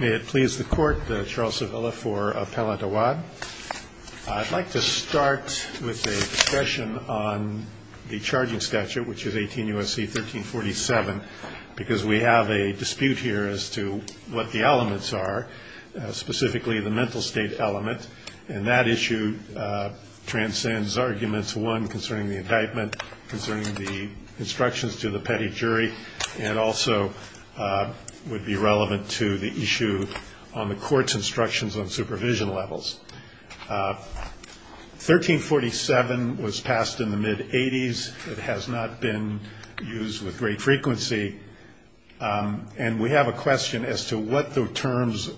May it please the Court, Charles Sevilla for Appellant Awad. I'd like to start with a discussion on the charging statute, which is 18 U.S.C. 1347, because we have a dispute here as to what the elements are, specifically the mental state element, and that issue transcends arguments, one, concerning the indictment, concerning the instructions to the petty jury, and also would be relevant to the issue on the Court's instructions on supervision levels. 1347 was passed in the mid-'80s. It has not been used with great frequency. And we have a question as to what the terms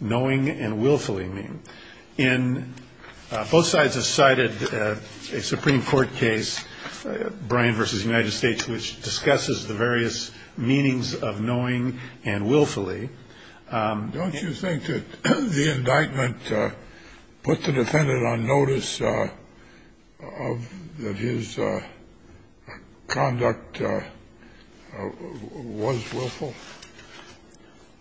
knowing and willfully mean. And both sides have cited a Supreme Court case, Bryan v. United States, which discusses the various meanings of knowing and willfully. Don't you think that the indictment put the defendant on notice of that his conduct was willful?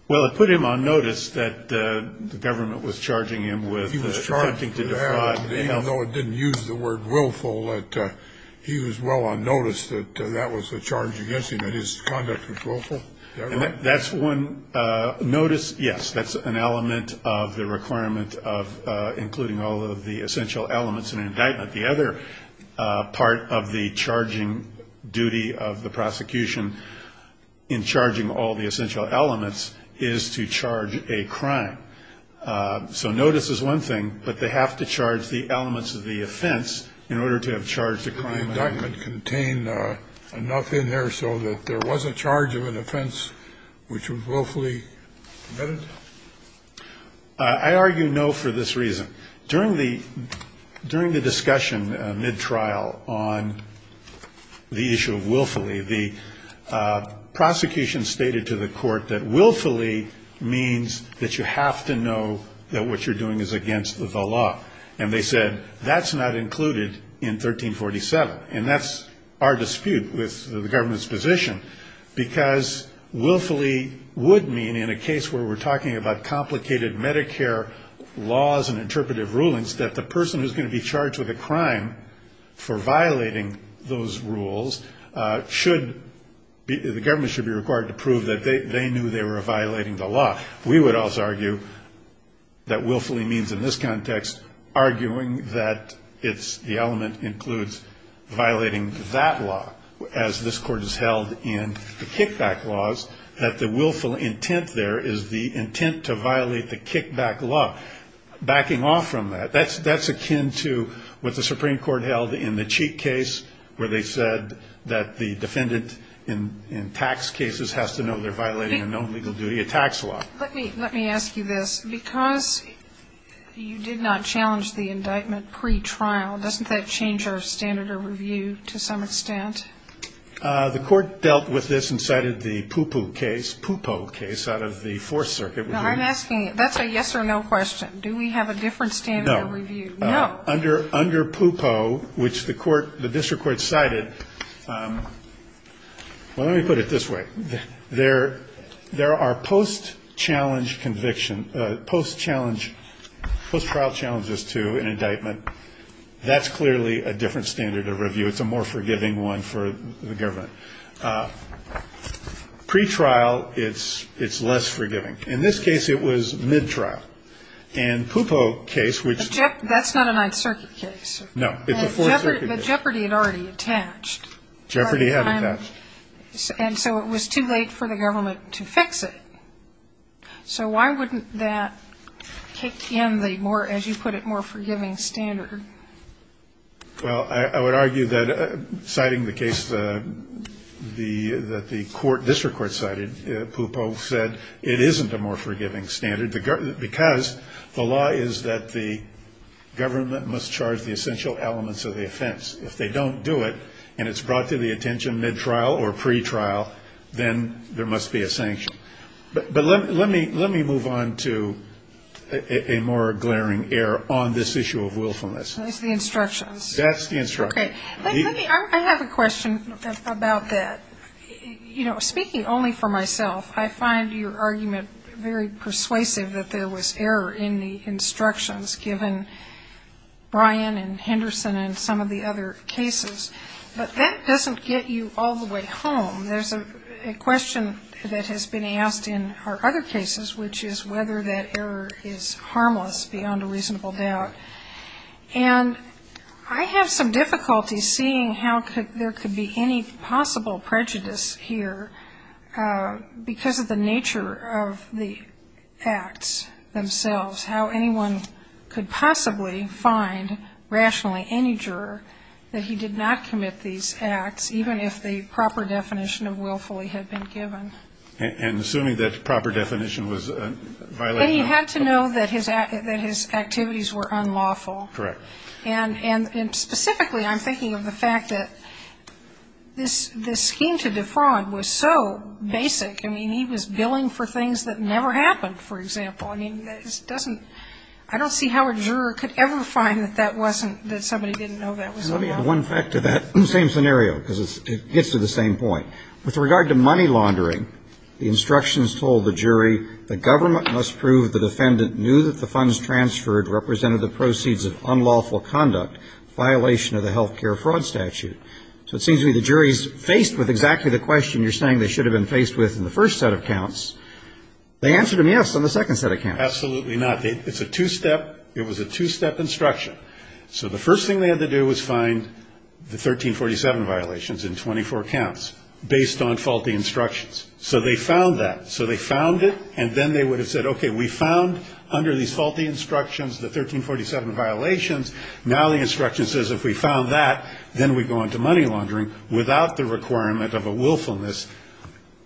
Well, it put him on notice that the government was charging him with attempting to defraud. Even though it didn't use the word willful, that he was well on notice that that was a charge against him, that his conduct was willful? That's one notice, yes. That's an element of the requirement of including all of the essential elements in an indictment. The other part of the charging duty of the prosecution in charging all the essential elements is to charge a crime. So notice is one thing, but they have to charge the elements of the offense in order to have charged a crime. Did the indictment contain enough in there so that there was a charge of an offense which was willfully committed? I argue no for this reason. During the discussion mid-trial on the issue of willfully, the prosecution stated to the court that willfully means that you have to know that what you're doing is against the law. And they said that's not included in 1347. And that's our dispute with the government's position, because willfully would mean in a case where we're talking about complicated Medicare laws and interpretive rulings that the person who's going to be charged with a crime for violating those rules should be, the government should be required to prove that they knew they were violating the law. We would also argue that willfully means in this context arguing that it's, the element includes violating that law as this Court has held in the kickback laws, that the willful intent there is the intent to violate the kickback law. Backing off from that, that's akin to what the Supreme Court held in the Cheek case, where they said that the defendant in tax cases has to know they're violating a known legal duty, a tax law. Let me ask you this. Because you did not challenge the indictment pretrial, doesn't that change our standard of review to some extent? The Court dealt with this and cited the Pupo case out of the Fourth Circuit. I'm asking, that's a yes or no question. Do we have a different standard of review? No. No. Under Pupo, which the court, the district court cited, well, let me put it this way. There are post-challenge conviction, post-trial challenges to an indictment. That's clearly a different standard of review. It's a more forgiving one for the government. Pretrial, it's less forgiving. In this case, it was mid-trial. And Pupo case, which… That's not a Ninth Circuit case. No. It's a Fourth Circuit case. But Jeopardy had already attached. Jeopardy had attached. And so it was too late for the government to fix it. So why wouldn't that kick in the more, as you put it, more forgiving standard? Well, I would argue that citing the case that the court, district court cited, Pupo said it isn't a more forgiving standard because the law is that the government must charge the essential elements of the offense. If they don't do it and it's brought to the attention mid-trial or pre-trial, then there must be a sanction. But let me move on to a more glaring error on this issue of willfulness. It's the instructions. That's the instructions. Okay. I have a question about that. You know, speaking only for myself, I find your argument very persuasive that there was error in the instructions given Brian and Henderson and some of the other cases. But that doesn't get you all the way home. There's a question that has been asked in our other cases, which is whether that error is harmless beyond a reasonable doubt. And I have some difficulty seeing how there could be any possible prejudice here because of the nature of the acts themselves, how anyone could possibly find rationally any juror that he did not commit these acts, even if the proper definition of willfully had been given. And assuming that proper definition was violated. He had to know that his activities were unlawful. Correct. And specifically I'm thinking of the fact that this scheme to defraud was so basic. I mean, he was billing for things that never happened, for example. I mean, I don't see how a juror could ever find that that wasn't, that somebody didn't know that was unlawful. Let me add one fact to that. Same scenario because it gets to the same point. With regard to money laundering, the instructions told the jury the government must prove the defendant knew that the funds transferred represented the proceeds of unlawful conduct, violation of the health care fraud statute. So it seems to me the jury is faced with exactly the question you're saying they should have been faced with in the first set of counts. They answered him yes on the second set of counts. Absolutely not. It's a two-step. It was a two-step instruction. So the first thing they had to do was find the 1347 violations in 24 counts based on faulty instructions. So they found that. So they found it, and then they would have said, okay, we found under these faulty instructions the 1347 violations. Now the instruction says if we found that, then we go into money laundering without the requirement of a willfulness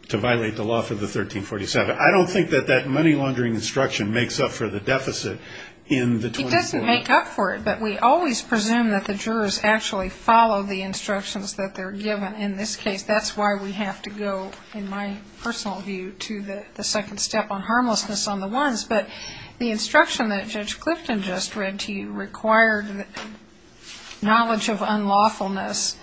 to I don't think that that money laundering instruction makes up for the deficit in the 24. It doesn't make up for it, but we always presume that the jurors actually follow the instructions that they're given in this case. That's why we have to go, in my personal view, to the second step on harmlessness on the ones. But the instruction that Judge Clifton just read to you required knowledge of unlawfulness.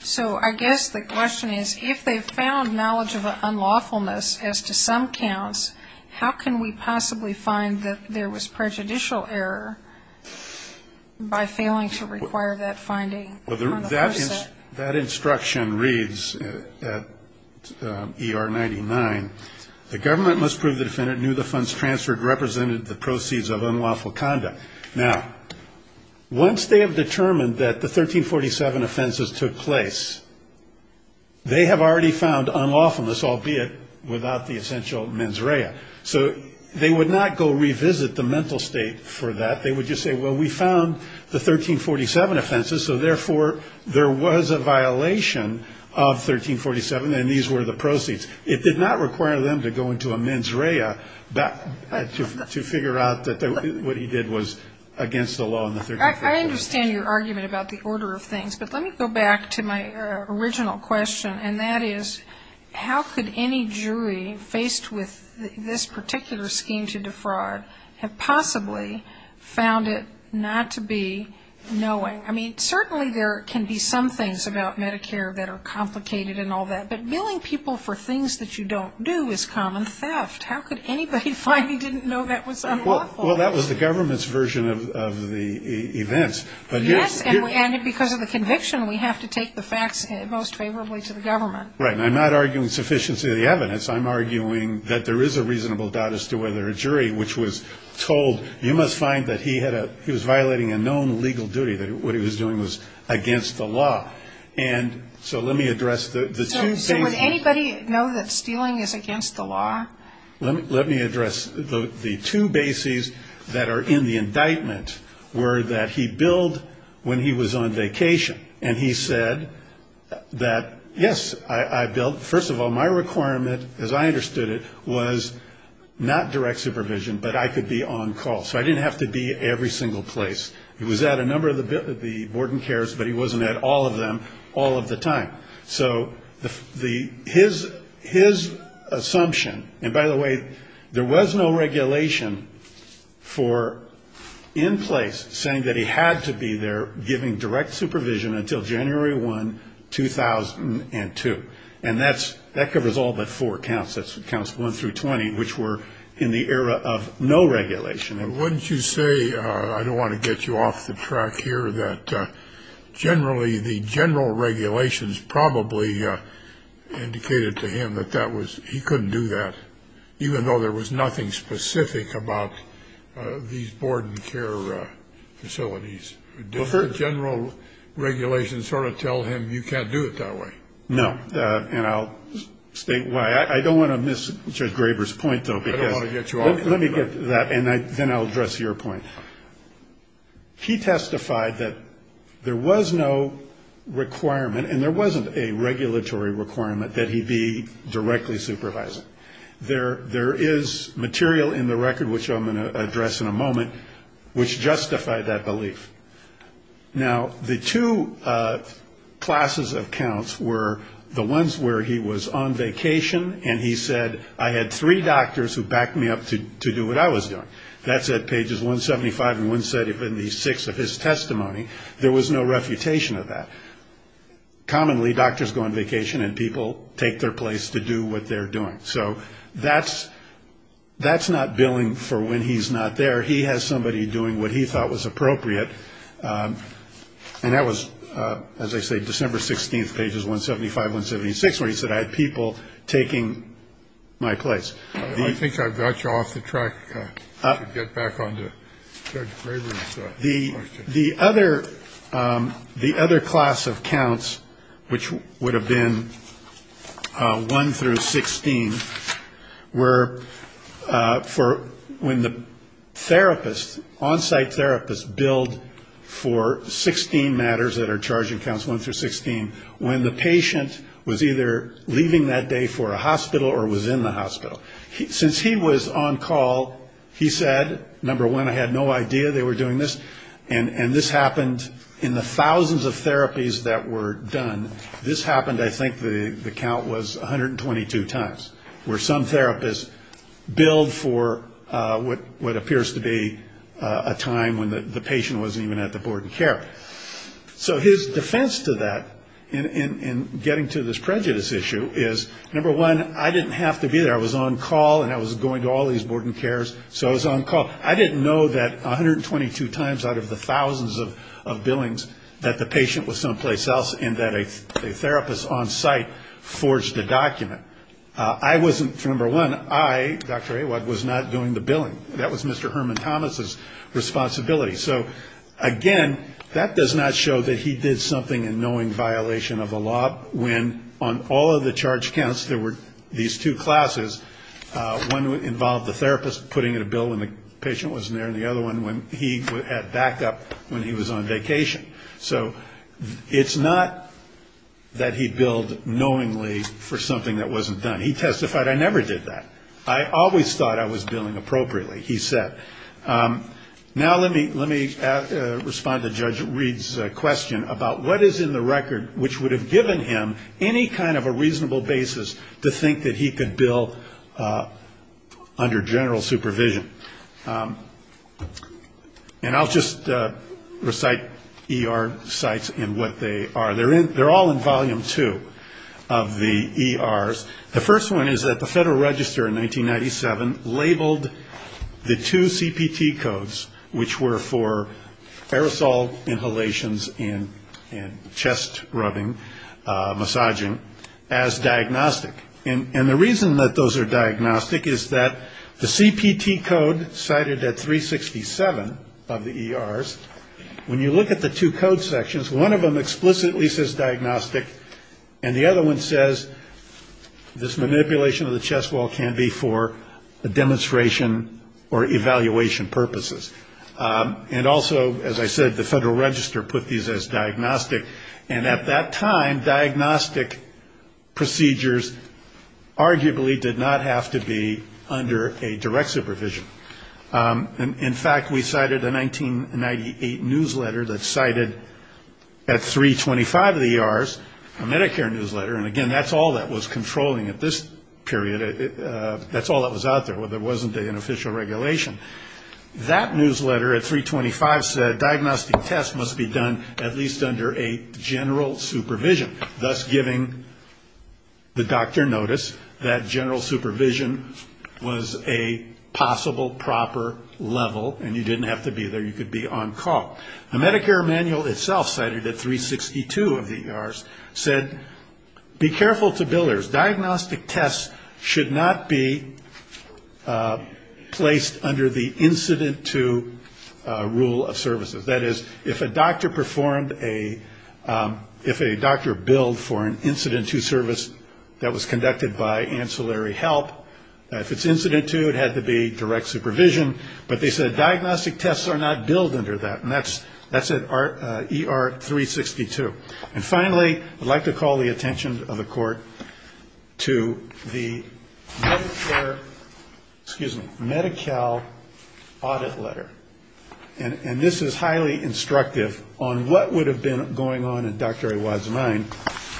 So I guess the question is, if they found knowledge of unlawfulness as to some counts, how can we possibly find that there was prejudicial error by failing to require that finding? That instruction reads at ER 99, the government must prove the defendant knew the funds transferred represented the proceeds of unlawful conduct. Now, once they have determined that the 1347 offenses took place, they have already found unlawfulness, albeit without the essential mens rea. So they would not go revisit the mental state for that. They would just say, well, we found the 1347 offenses, so therefore there was a violation of 1347, and these were the proceeds. It did not require them to go into a mens rea to figure out that what he did was against the law in the 1347. I understand your argument about the order of things, but let me go back to my original question, and that is how could any jury faced with this particular scheme to defraud have possibly found it not to be knowing? I mean, certainly there can be some things about Medicare that are complicated and all that, but billing people for things that you don't do is common theft. How could anybody find he didn't know that was unlawful? Well, that was the government's version of the events. Yes, and because of the conviction, we have to take the facts most favorably to the government. Right, and I'm not arguing sufficiency of the evidence. I'm arguing that there is a reasonable doubt as to whether a jury which was told, you must find that he was violating a known legal duty, that what he was doing was against the law. And so let me address the two things. So would anybody know that stealing is against the law? Let me address the two bases that are in the indictment were that he billed when he was on vacation, and he said that, yes, I billed. First of all, my requirement, as I understood it, was not direct supervision, but I could be on call, so I didn't have to be every single place. He was at a number of the board and cares, but he wasn't at all of them all of the time. So his assumption, and by the way, there was no regulation in place saying that he had to be there giving direct supervision until January 1, 2002. And that covers all but four counts. That's counts one through 20, which were in the era of no regulation. And wouldn't you say, I don't want to get you off the track here, that generally the general regulations probably indicated to him that that was he couldn't do that, even though there was nothing specific about these board and care facilities. General regulations sort of tell him you can't do it that way. No. And I'll state why. I don't want to miss Judge Graber's point, though. Let me get to that, and then I'll address your point. He testified that there was no requirement, and there wasn't a regulatory requirement that he be directly supervising. There is material in the record, which I'm going to address in a moment, which justified that belief. Now, the two classes of counts were the ones where he was on vacation, and he said, I had three doctors who backed me up to do what I was doing. That's at pages 175 and 176 of his testimony. There was no refutation of that. Commonly, doctors go on vacation, and people take their place to do what they're doing. So that's not billing for when he's not there. He has somebody doing what he thought was appropriate. And that was, as I say, December 16th, pages 175, 176, where he said, I had people taking my place. I think I've got you off the track. Get back onto the other. The other class of counts, which would have been one through 16, were for when the therapist, on-site therapist, billed for 16 matters that are charging counts one through 16, when the patient was either leaving that day for a hospital or was in the hospital. Since he was on call, he said, number one, I had no idea they were doing this, and this happened in the thousands of therapies that were done. This happened, I think the count was 122 times, where some therapists billed for what appears to be a time when the patient wasn't even at the board and care. So his defense to that in getting to this prejudice issue is, number one, I didn't have to be there. I was on call, and I was going to all these board and cares, so I was on call. I didn't know that 122 times out of the thousands of billings that the patient was someplace else and that a therapist on-site forged a document. I wasn't, number one, I, Dr. Awad, was not doing the billing. That was Mr. Herman Thomas's responsibility. So, again, that does not show that he did something in knowing violation of the law when on all of the charge counts there were these two classes, one involved the therapist putting in a bill when the patient wasn't there and the other one when he had backup when he was on vacation. So it's not that he billed knowingly for something that wasn't done. He testified, I never did that. I always thought I was billing appropriately, he said. Now let me respond to Judge Reed's question about what is in the record which would have given him any kind of a reasonable basis to think that he could bill under general supervision. And I'll just recite ER sites and what they are. They're all in volume two of the ERs. The first one is that the Federal Register in 1997 labeled the two CPT codes which were for aerosol inhalations and chest rubbing, massaging, as diagnostic. And the reason that those are diagnostic is that the CPT code cited at 367 of the ERs, when you look at the two code sections, one of them explicitly says diagnostic and the other one says this manipulation of the chest wall can be for a demonstration or evaluation purposes. And also, as I said, the Federal Register put these as diagnostic and at that time diagnostic procedures arguably did not have to be under a direct supervision. In fact, we cited a 1998 newsletter that cited at 325 of the ERs, a Medicare newsletter, and again, that's all that was controlling at this period. That's all that was out there, whether it wasn't an official regulation. That newsletter at 325 said diagnostic tests must be done at least under a general supervision, thus giving the doctor notice that general supervision was a possible proper level and you didn't have to be there, you could be on call. The Medicare manual itself cited at 362 of the ERs said, be careful to builders, diagnostic tests should not be placed under the incident to rule of services. That is, if a doctor performed a, if a doctor billed for an incident to service that was conducted by ancillary help, if it's incident to, it had to be direct supervision, but they said diagnostic tests are not billed under that, and that's at ER 362. And finally, I'd like to call the attention of the Court to the Medicare, excuse me, Medi-Cal audit letter, and this is highly instructive on what would have been going on in Dr. Ewad's mind.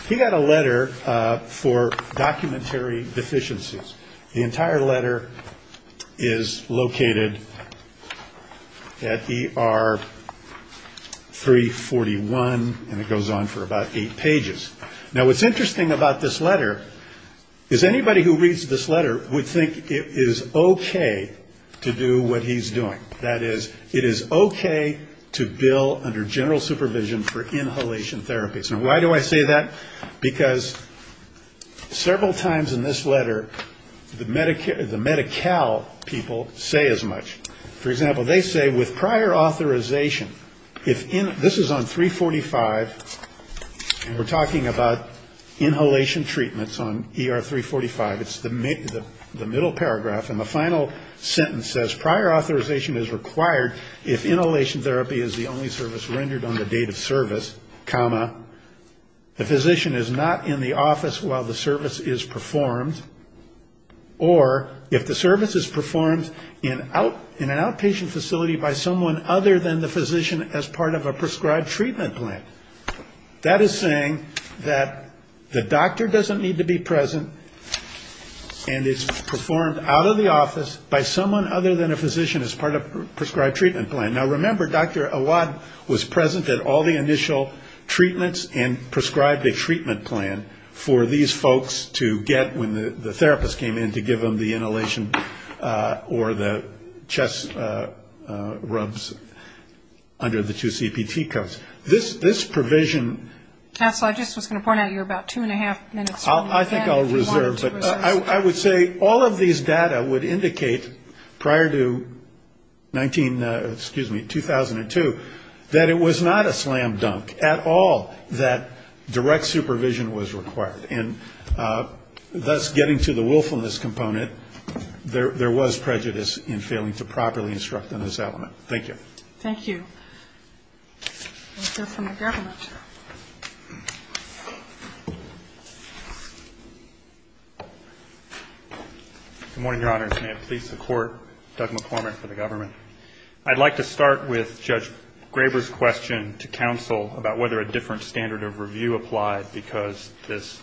He got a letter for documentary deficiencies. The entire letter is located at ER 341, and it goes on for about eight pages. Now, what's interesting about this letter is anybody who reads this letter would think it is okay to do what he's doing. That is, it is okay to bill under general supervision for inhalation therapies. Now, why do I say that? Because several times in this letter, the Medicare, the Medi-Cal people say as much. For example, they say with prior authorization, if, this is on 345, and we're talking about inhalation treatments on ER 345, it's the middle paragraph, and the final sentence says prior authorization is required if inhalation therapy is the only service comma, the physician is not in the office while the service is performed, or if the service is performed in an outpatient facility by someone other than the physician as part of a prescribed treatment plan. That is saying that the doctor doesn't need to be present, and it's performed out of the office by someone other than a physician as part of a prescribed treatment plan. Now, remember, Dr. Awad was present at all the initial treatments and prescribed a treatment plan for these folks to get when the therapist came in to give them the inhalation or the chest rubs under the two CPT codes. This provision ‑‑ I think I'll reserve, but I would say all of these data would indicate prior to 19, excuse me, 2002, that it was not a slam dunk at all that direct supervision was required. And thus getting to the willfulness component, there was prejudice in failing to properly instruct on this element. Thank you. I'd like to start with Judge Graber's question to counsel about whether a different standard of review applied, because this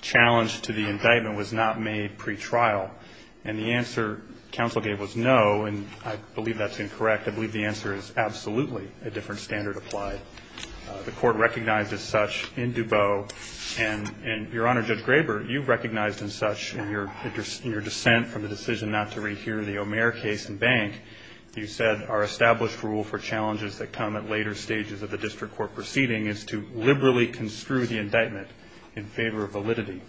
challenge to the indictment was not made pretrial. And the answer counsel gave was no, and I believe that's incorrect. I believe the answer is yes. The answer is absolutely a different standard applied. The court recognized as such in Dubot, and, Your Honor, Judge Graber, you recognized as such in your dissent from the decision not to rehear the O'Meara case in Bank, you said our established rule for challenges that come at later stages of the district court proceeding is to liberally construe the indictment in favor of validity.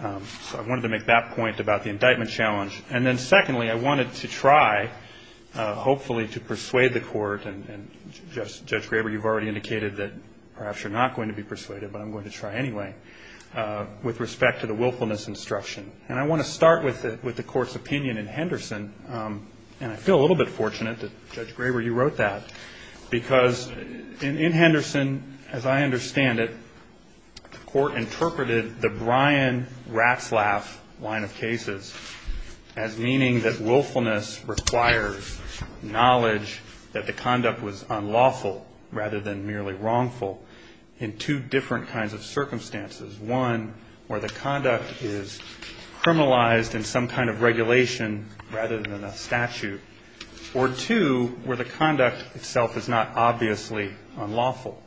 So I wanted to make that point about the indictment challenge. I'm going to persuade the court, and Judge Graber, you've already indicated that perhaps you're not going to be persuaded, but I'm going to try anyway, with respect to the willfulness instruction. And I want to start with the court's opinion in Henderson, and I feel a little bit fortunate that, Judge Graber, you wrote that, because in Henderson, as I understand it, the court interpreted the Bryan-Ratzlaff line of cases as meaning that willfulness requires knowledge that the conduct was unlawful rather than merely wrongful in two different kinds of circumstances. One, where the conduct is criminalized in some kind of regulation rather than a statute, or, two, where the conduct itself is not obviously unlawful.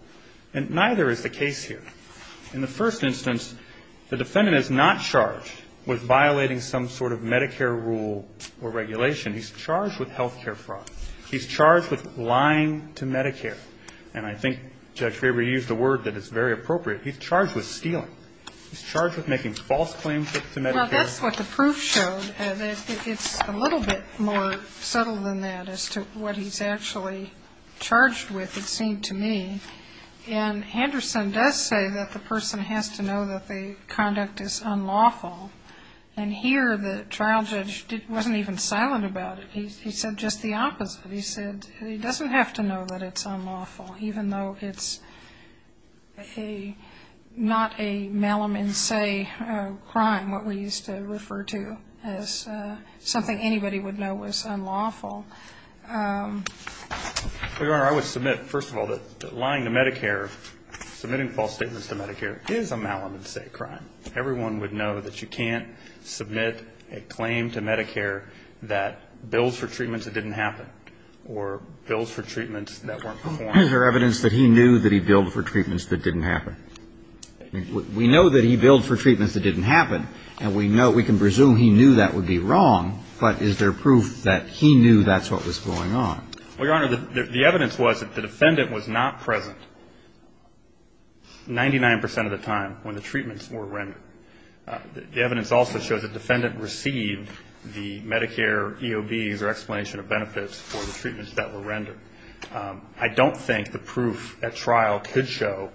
And neither is the case here. In the first instance, the defendant is not charged with violating some sort of Medicare rule or regulation. He's charged with health care fraud. He's charged with lying to Medicare. And I think Judge Graber used a word that is very appropriate. He's charged with stealing. He's charged with making false claims to Medicare. Well, that's what the proof showed. It's a little bit more subtle than that as to what he's actually charged with, it seemed to me. And Henderson does say that the person has to know that the conduct is unlawful. And here, the trial judge wasn't even silent about it. He said just the opposite. He said he doesn't have to know that it's unlawful, even though it's a not a malum in se, a crime, what we used to refer to as something anybody would know was unlawful. Well, Your Honor, I would submit, first of all, that lying to Medicare, submitting false statements to Medicare is a malum in se crime. Everyone would know that you can't submit a claim to Medicare that bills for treatments that didn't happen or bills for treatments that weren't performed. Is there evidence that he knew that he billed for treatments that didn't happen? We know that he billed for treatments that didn't happen, and we know, we can presume he knew that would be wrong. But is there proof that he knew that's what was going on? Well, Your Honor, the evidence was that the defendant was not present 99 percent of the time when the treatments were rendered. The evidence also shows the defendant received the Medicare EOBs or explanation of benefits for the treatments that were rendered. I don't think the proof at trial could show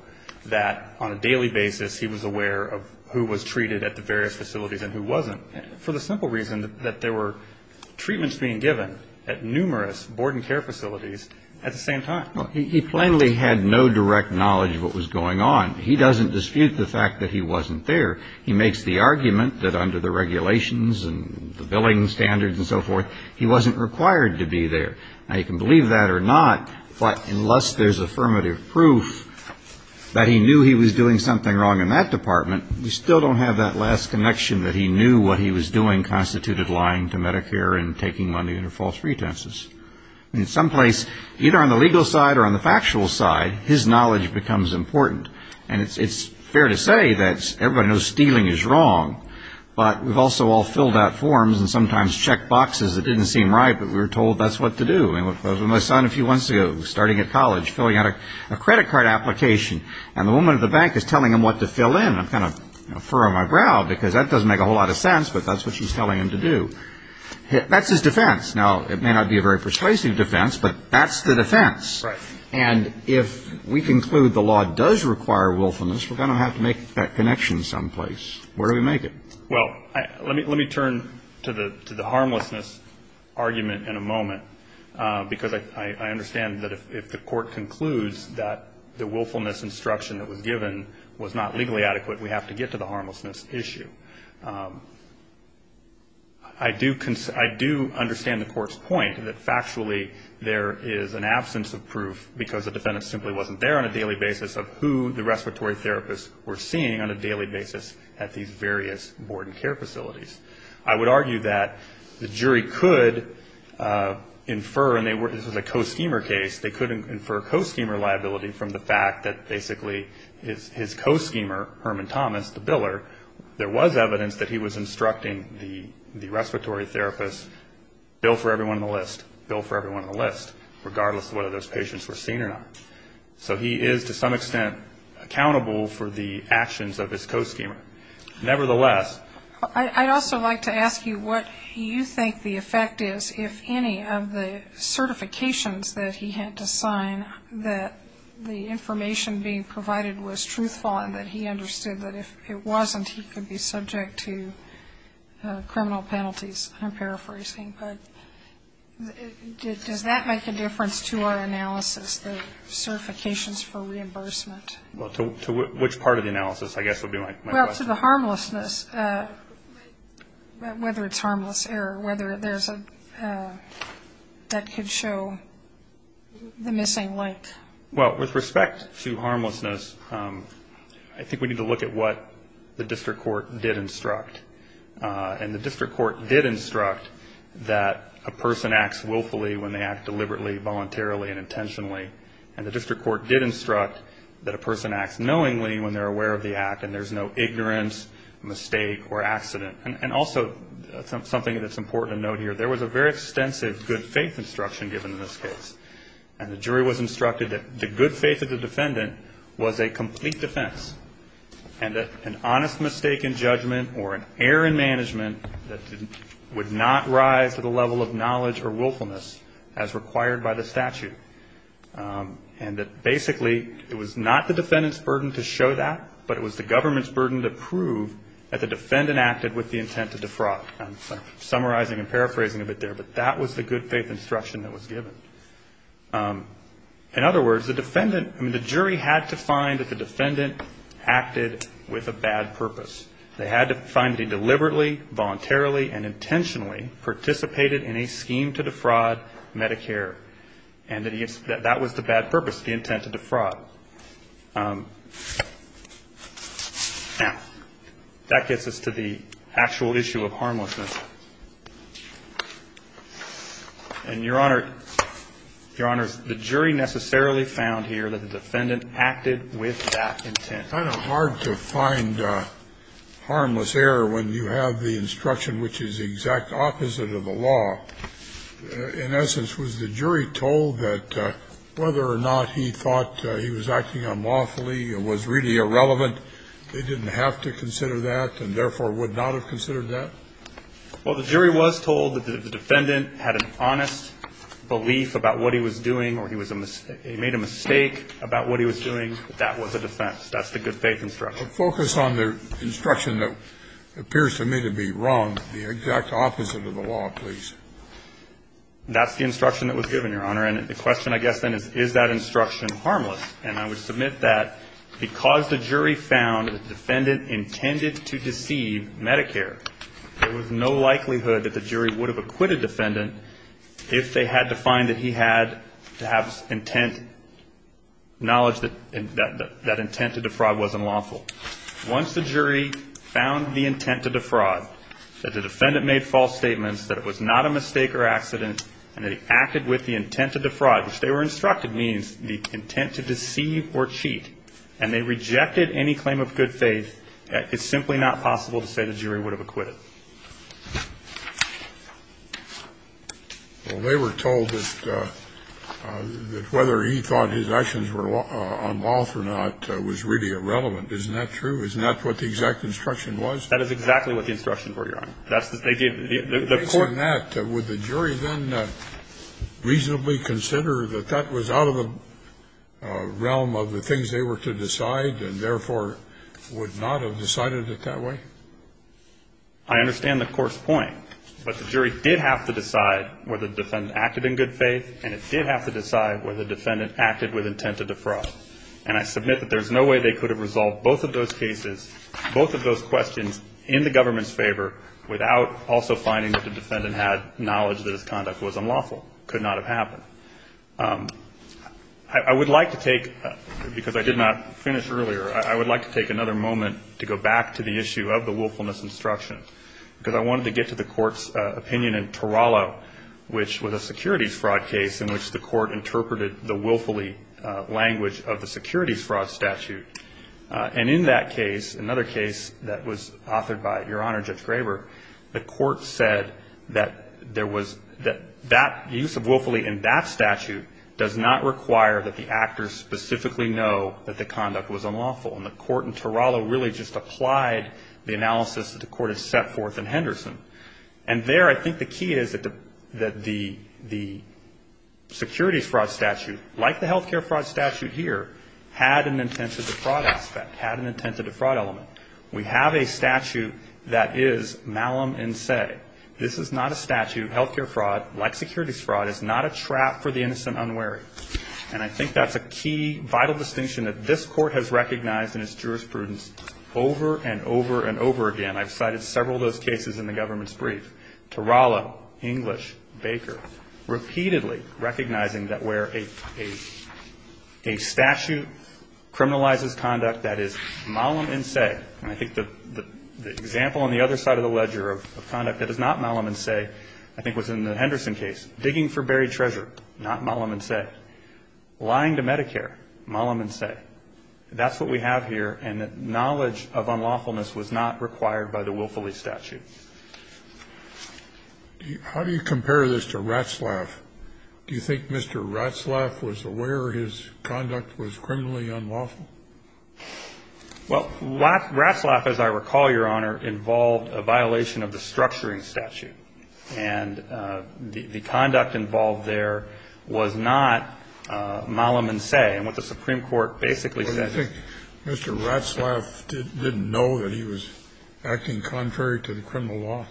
that on a daily basis he was aware of who was treated at the various facilities and who wasn't, for the simple reason that there were treatments being given at numerous board and care facilities at the same time. Well, he plainly had no direct knowledge of what was going on. He doesn't dispute the fact that he wasn't there. He makes the argument that under the regulations and the billing standards and so forth, he wasn't required to be there. Now, you can believe that or not, but unless there's affirmative proof that he knew he was doing something wrong in that department, we still don't have that last connection that he knew what he was doing constituted lying to Medicare and taking money under false pretenses. In some place, either on the legal side or on the factual side, his knowledge becomes important. And it's fair to say that everybody knows stealing is wrong. But we've also all filled out forms and sometimes checked boxes that didn't seem right, but we were told that's what to do. I was with my son a few months ago, starting at college, filling out a credit card application. And the woman at the bank is telling him what to fill in. I'm kind of furrowing my brow, because that doesn't make a whole lot of sense, but that's what she's telling him to do. That's his defense. Now, it may not be a very persuasive defense, but that's the defense. And if we conclude the law does require willfulness, we're going to have to make that connection someplace. Where do we make it? Well, let me turn to the harmlessness argument in a moment, because I understand that if the court concludes that the willfulness instruction that was given was not legally adequate, we have to get to the harmlessness issue. I do understand the court's point that factually there is an absence of proof, because the defendant simply wasn't there on a daily basis, of who the respiratory therapists were seeing on a daily basis at these various board and care facilities. I would argue that the jury could infer, and this was a co-schemer case, they could infer co-schemer liability from the fact that basically his co-schemer, Herman Thomas, the biller, there was evidence that he was instructing the respiratory therapist, bill for everyone on the list, bill for everyone on the list, regardless of whether those patients were seen or not. So he is to some extent accountable for the actions of his co-schemer. Nevertheless... ...the information being provided was truthful and that he understood that if it wasn't, he could be subject to criminal penalties, I'm paraphrasing. But does that make a difference to our analysis, the certifications for reimbursement? Well, to which part of the analysis, I guess, would be my question. Well, to the harmlessness, whether it's harmless error, whether there's a... The missing link. Well, with respect to harmlessness, I think we need to look at what the district court did instruct. And the district court did instruct that a person acts willfully when they act deliberately, voluntarily and intentionally. And the district court did instruct that a person acts knowingly when they're aware of the act and there's no ignorance, mistake or accident. And also something that's important to note here, there was a very extensive good faith instruction given in this case. And the jury was instructed that the good faith of the defendant was a complete defense and that an honest mistake in judgment or an error in management would not rise to the level of knowledge or willfulness as required by the statute. And that basically it was not the defendant's burden to show that, but it was the government's burden to prove that the defendant acted with the intent to defraud. I'm summarizing and paraphrasing a bit there, but that was the good faith instruction that was given. In other words, the jury had to find that the defendant acted with a bad purpose. They had to find that he deliberately, voluntarily and intentionally participated in a scheme to defraud Medicare. And that was the bad purpose, the intent to defraud. Now, that gets us to the actual issue of harmlessness. And, Your Honor, Your Honor, the jury necessarily found here that the defendant acted with that intent. It's kind of hard to find harmless error when you have the instruction which is the exact opposite of the law. In essence, was the jury told that whether or not he thought he was acting unlawfully or was really irrelevant, they didn't have to consider that and therefore would not have considered that? Well, the jury was told that the defendant had an honest belief about what he was doing or he made a mistake about what he was doing. That was a defense. That's the good faith instruction. Focus on the instruction that appears to me to be wrong, the exact opposite of the law, please. That's the instruction that was given, Your Honor. And the question, I guess, then is, is that instruction harmless? And I would submit that because the jury found that the defendant intended to deceive Medicare, there was no likelihood that the jury would have acquitted the defendant if they had to find that he had to have intent, knowledge that that intent to defraud wasn't lawful. Once the jury found the intent to defraud, that the defendant made false statements, that it was not a mistake or accident, and that he acted with the intent to defraud, which they were instructed means the intent to deceive or cheat. And they rejected any claim of good faith. It's simply not possible to say the jury would have acquitted. Well, they were told that whether he thought his actions were unlawful or not was really irrelevant. Isn't that true? Isn't that what the exact instruction was? That is exactly what the instructions were, Your Honor. In that, would the jury then reasonably consider that that was out of the realm of the things they were to decide and, therefore, would not have decided it that way? I understand the Court's point, but the jury did have to decide whether the defendant acted in good faith, and it did have to decide whether the defendant acted with intent to defraud. And I submit that there's no way they could have resolved both of those cases, both of those questions, in the government's favor without also finding that the defendant had knowledge that his conduct was unlawful. It could not have happened. I would like to take, because I did not finish earlier, I would like to take another moment to go back to the issue of the willfulness instruction, because I wanted to get to the Court's opinion in Torello, which was a securities fraud case in which the Court interpreted the willfully language of the securities fraud statute. And in that case, another case that was authored by, Your Honor, Judge Graber, the Court said that there was, that use of willfully in that statute does not require that the actors specifically know that the conduct was unlawful. And the Court in Torello really just applied the analysis that the Court had set forth in Henderson. And there, I think the key is that the securities fraud statute, like the health care fraud statute here, had an intent to defraud aspect, had an intent to defraud element. We have a statute that is malum in se. This is not a statute. Health care fraud, like securities fraud, is not a trap for the innocent unwary. And I think that's a key vital distinction that this Court has recognized in its jurisprudence over and over and over again. I've cited several of those cases in the government's brief. Torello, English, Baker, repeatedly recognizing that where a statute criminalizes conduct that is malum in se, and I think the example on the other side of the ledger of conduct that is not malum in se, I think was in the Henderson case. Digging for buried treasure, not malum in se. Lying to Medicare, malum in se. That's what we have here, and that knowledge of unlawfulness was not required by the willfully statute. How do you compare this to Ratzlaff? Do you think Mr. Ratzlaff was aware his conduct was criminally unlawful? Well, Ratzlaff, as I recall, Your Honor, involved a violation of the structuring statute, and the conduct involved there was not malum in se, and what the Supreme Court basically said is Mr. Ratzlaff didn't know that he was acting contrary to the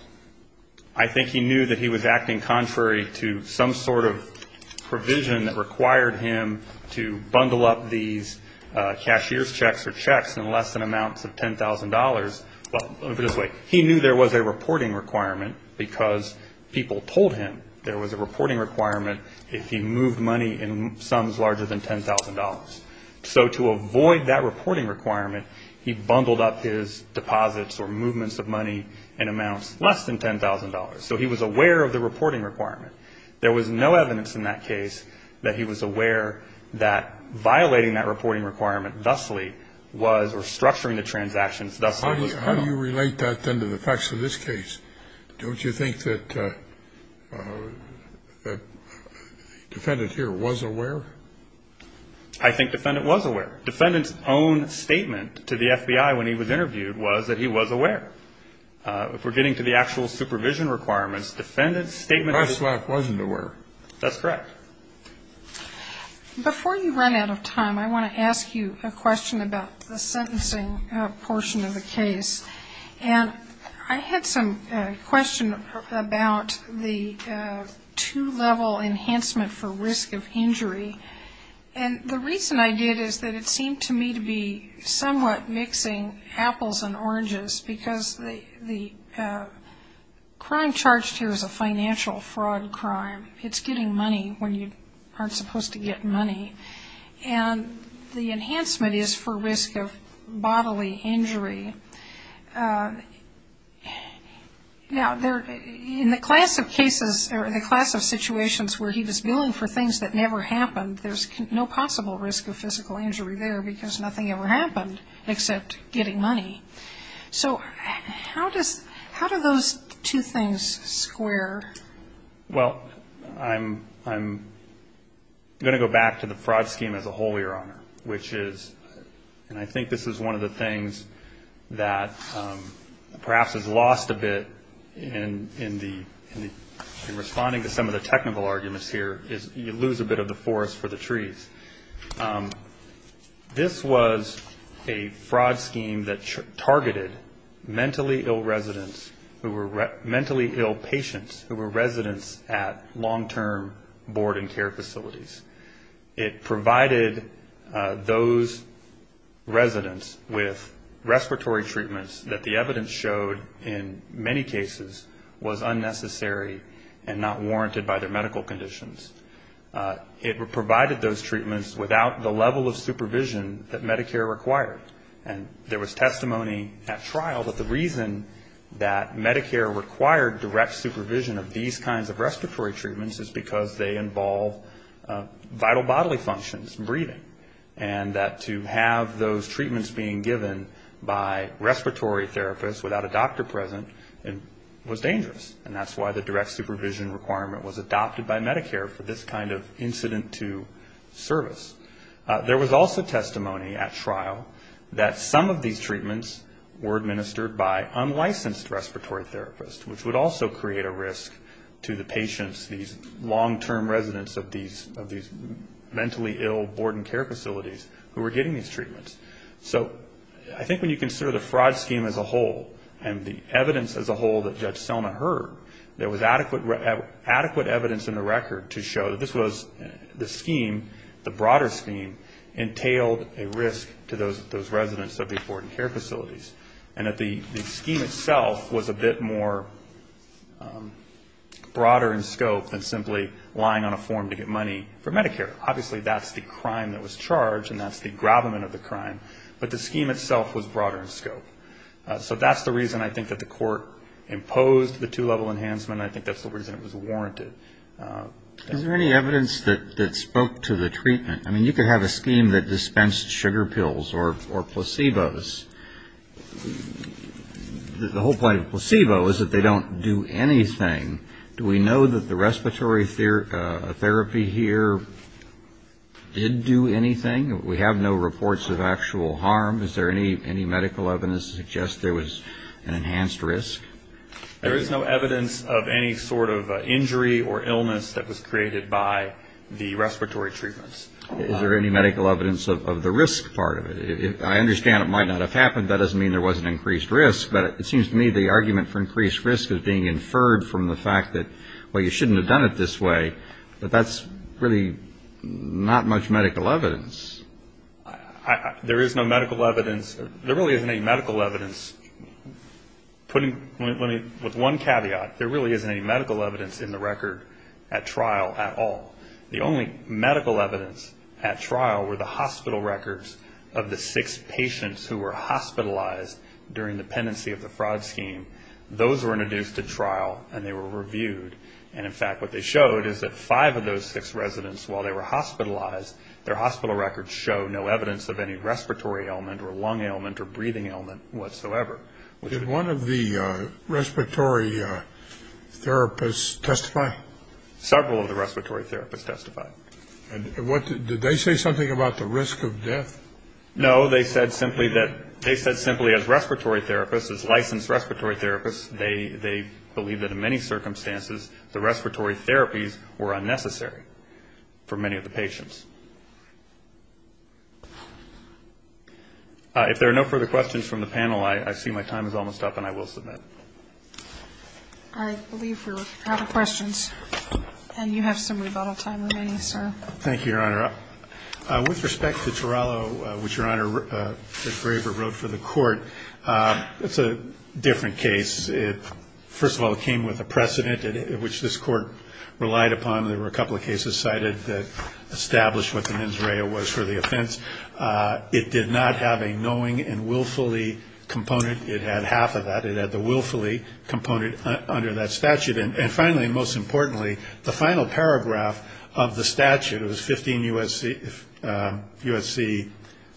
I think he knew that he was acting contrary to some sort of provision that required him to bundle up these cashier's checks or checks in less than amounts of $10,000. He knew there was a reporting requirement because people told him there was a reporting requirement if he moved money in sums larger than $10,000. So to avoid that reporting requirement, he bundled up his deposits or movements of amounts less than $10,000. So he was aware of the reporting requirement. There was no evidence in that case that he was aware that violating that reporting requirement thusly was, or structuring the transactions thusly was criminal. How do you relate that then to the facts of this case? Don't you think that the defendant here was aware? I think the defendant was aware. The defendant's own statement to the FBI when he was interviewed was that he was aware. If we're getting to the actual supervision requirements, defendant's statement to the Ratzlaff was aware. That's correct. Before you run out of time, I want to ask you a question about the sentencing portion of the case. And I had some question about the two-level enhancement for risk of injury. And the reason I did is that it seemed to me to be somewhat mixing apples and oranges because the crime charged here is a financial fraud crime. It's getting money when you aren't supposed to get money. And the enhancement is for risk of bodily injury. Now, in the class of cases or the class of situations where he was billing for things that never happened, there's no possible risk of physical injury there because nothing ever happened except getting money. So how do those two things square? Well, I'm going to go back to the fraud scheme as a whole, Your Honor, which is and I think this is one of the things that perhaps is lost a bit in responding to some of the technical arguments here is you lose a bit of the forest for the trees. This was a fraud scheme that targeted mentally ill residents who were mentally ill patients who were residents at long-term board and care facilities. It provided those residents with respiratory treatments that the evidence showed in many cases was unnecessary and not warranted by their medical conditions. It provided those treatments without the level of supervision that Medicare required. And there was testimony at trial that the reason that Medicare required direct supervision of these kinds of respiratory treatments is because they involve vital bodily functions, breathing, and that to have those treatments being given by respiratory therapists without a doctor present was dangerous. And that's why the direct supervision requirement was adopted by Medicare for this kind of incident to service. There was also testimony at trial that some of these treatments were administered by unlicensed respiratory therapists, which would also create a risk to the patients, these long-term residents of these mentally ill board and care facilities who were getting these treatments. So I think when you consider the fraud scheme as a whole and the evidence as a whole that Judge Selma heard, there was adequate evidence in the record to show that this was the scheme, the broader scheme, entailed a risk to those residents of these board and care facilities, and that the scheme itself was a bit more broader in scope than simply lying on a form to get treatment. So that's the reason I think that the court imposed the two-level enhancement, and I think that's the reason it was warranted. I mean, you could have a scheme that dispensed sugar pills or placebos. The whole point of placebo is that they don't do anything. Do we know that the respiratory therapy here did do anything? We have no reports of actual harm. Is there any medical evidence to suggest there was an enhanced risk? There is no evidence of any sort of injury or illness that was created by the respiratory treatments. Is there any medical evidence of the risk part of it? I understand it might not have happened. That doesn't mean there wasn't increased risk, but it seems to me the argument for increased risk is being inferred from the fact that, well, you shouldn't have done it this way, but that's really not much medical evidence. There is no medical evidence. There really isn't any medical evidence. With one caveat, there really isn't any medical evidence in the record at trial at all. The only medical evidence at trial were the hospital records of the six patients who were hospitalized during the pendency of the fraud scheme. Those were introduced at trial, and they were reviewed. And, in fact, what they showed is that five of those six residents, while they were hospitalized, their hospital records show no evidence of any respiratory ailment or lung ailment or breathing ailment whatsoever. Did one of the respiratory therapists testify? Several of the respiratory therapists testified. No, they said simply that as respiratory therapists, as licensed respiratory therapists, they believe that in many circumstances the respiratory therapies were unnecessary for many of the patients. If there are no further questions from the panel, I see my time is almost up, and I will submit. I believe we're out of questions. And you have some rebuttal time remaining, sir. Thank you, Your Honor. With respect to Torello, which, Your Honor, Graver wrote for the court, it's a different case. First of all, it came with a precedent which this court relied upon. There were a couple of cases cited that established what the mens rea was for the offense. It did not have a knowing and willfully component. It had half of that. It had the willfully component under that statute. And finally, most importantly, the final paragraph of the statute, it was 15 U.S.C.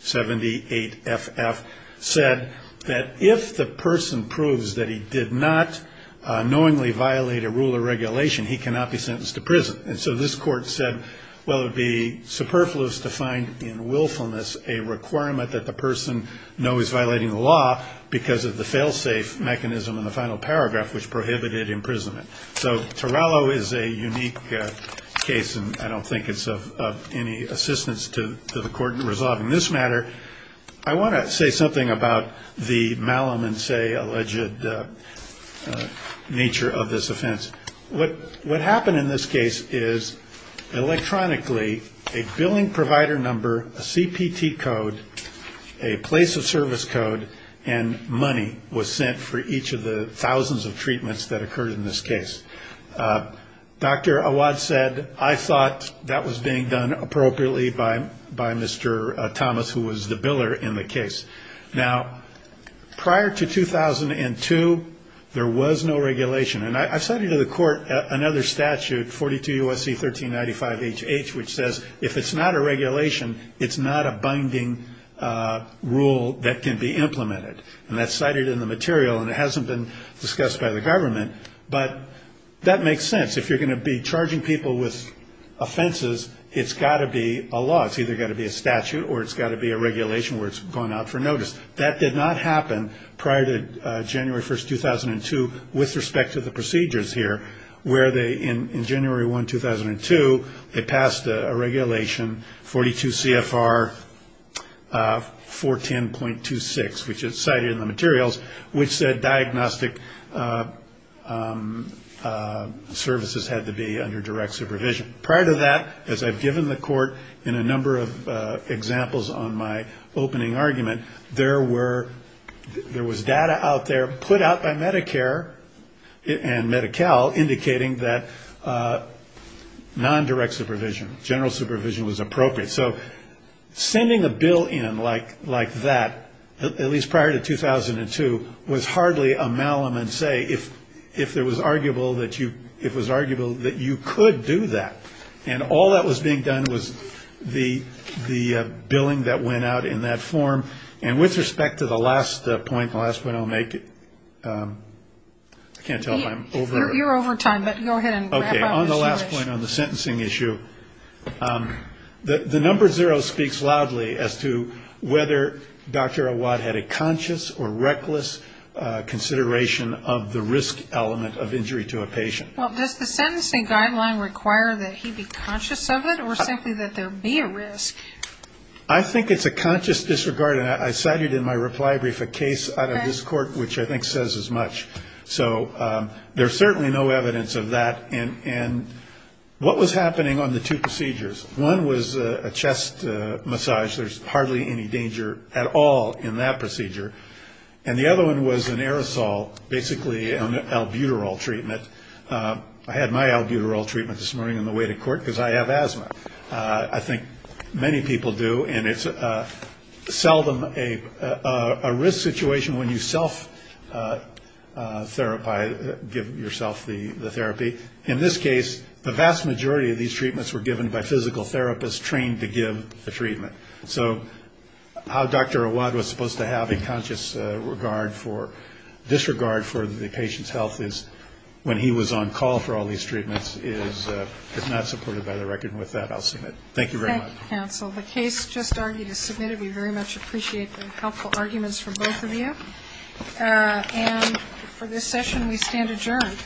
78FF, said that if the person proves that he did not knowingly violate a rule or regulation, he cannot be sentenced to prison. And so this court said, well, it would be superfluous to find in willfulness a requirement that the person knows he's violating the law because of the failsafe mechanism in the final paragraph, which prohibited imprisonment. So Torello is a unique case, and I don't think it's of any assistance to the court in resolving this matter. I want to say something about the malum and say alleged nature of this offense. What happened in this case is electronically a billing provider number, a CPT code, a place of service card, and money was sent for each of the thousands of treatments that occurred in this case. Dr. Awad said, I thought that was being done appropriately by Mr. Thomas, who was the biller in the case. Now, prior to 2002, there was no regulation. And I cited to the court another statute, 42 U.S.C. 1395HH, which says if it's not a regulation, it's not a binding rule that can be used. And that's cited in the material, and it hasn't been discussed by the government, but that makes sense. If you're going to be charging people with offenses, it's got to be a law. It's either got to be a statute, or it's got to be a regulation where it's gone out for notice. That did not happen prior to January 1, 2002, with respect to the procedures here, where they, in January 1, 2002, they passed a regulation, 42 CFR 410.26, which says if it's not a regulation, it's not a binding rule that can be used. And that's cited in the materials, which said diagnostic services had to be under direct supervision. Prior to that, as I've given the court in a number of examples on my opening argument, there was data out there put out by Medicare and Medi-Cal indicating that nondirect supervision, general supervision, was appropriate. So sending a bill in like that, at least prior to 2002, was hardly a malum and say if it was arguable that you could do that. And all that was being done was the billing that went out in that form. And with respect to the last point, the last point I'll make, I can't tell if I'm over. You're over time, but go ahead and wrap up as you wish. The last point on the sentencing issue, the number zero speaks loudly as to whether Dr. Awad had a conscious or reckless consideration of the risk element of injury to a patient. Well, does the sentencing guideline require that he be conscious of it, or simply that there be a risk? I think it's a conscious disregard, and I cited in my reply brief a case out of this court which I think says as much. So there's certainly no evidence of that. And what was happening on the two procedures? One was a chest massage. There's hardly any danger at all in that procedure. And the other one was an aerosol, basically an albuterol treatment. I had my albuterol treatment this morning on the way to court because I have asthma. I think many people do, and it's seldom a risk situation when you self-therapize, give yourself the therapy. In this case, the vast majority of these treatments were given by physical therapists trained to give the treatment. So how Dr. Awad was supposed to have a conscious disregard for the patient's health is when he was given the treatment. And the fact that he was on call for all these treatments is not supported by the record. And with that, I'll submit. Thank you very much. Thank you, counsel. The case just argued is submitted. We very much appreciate the helpful arguments from both of you. And for this session, we stand adjourned.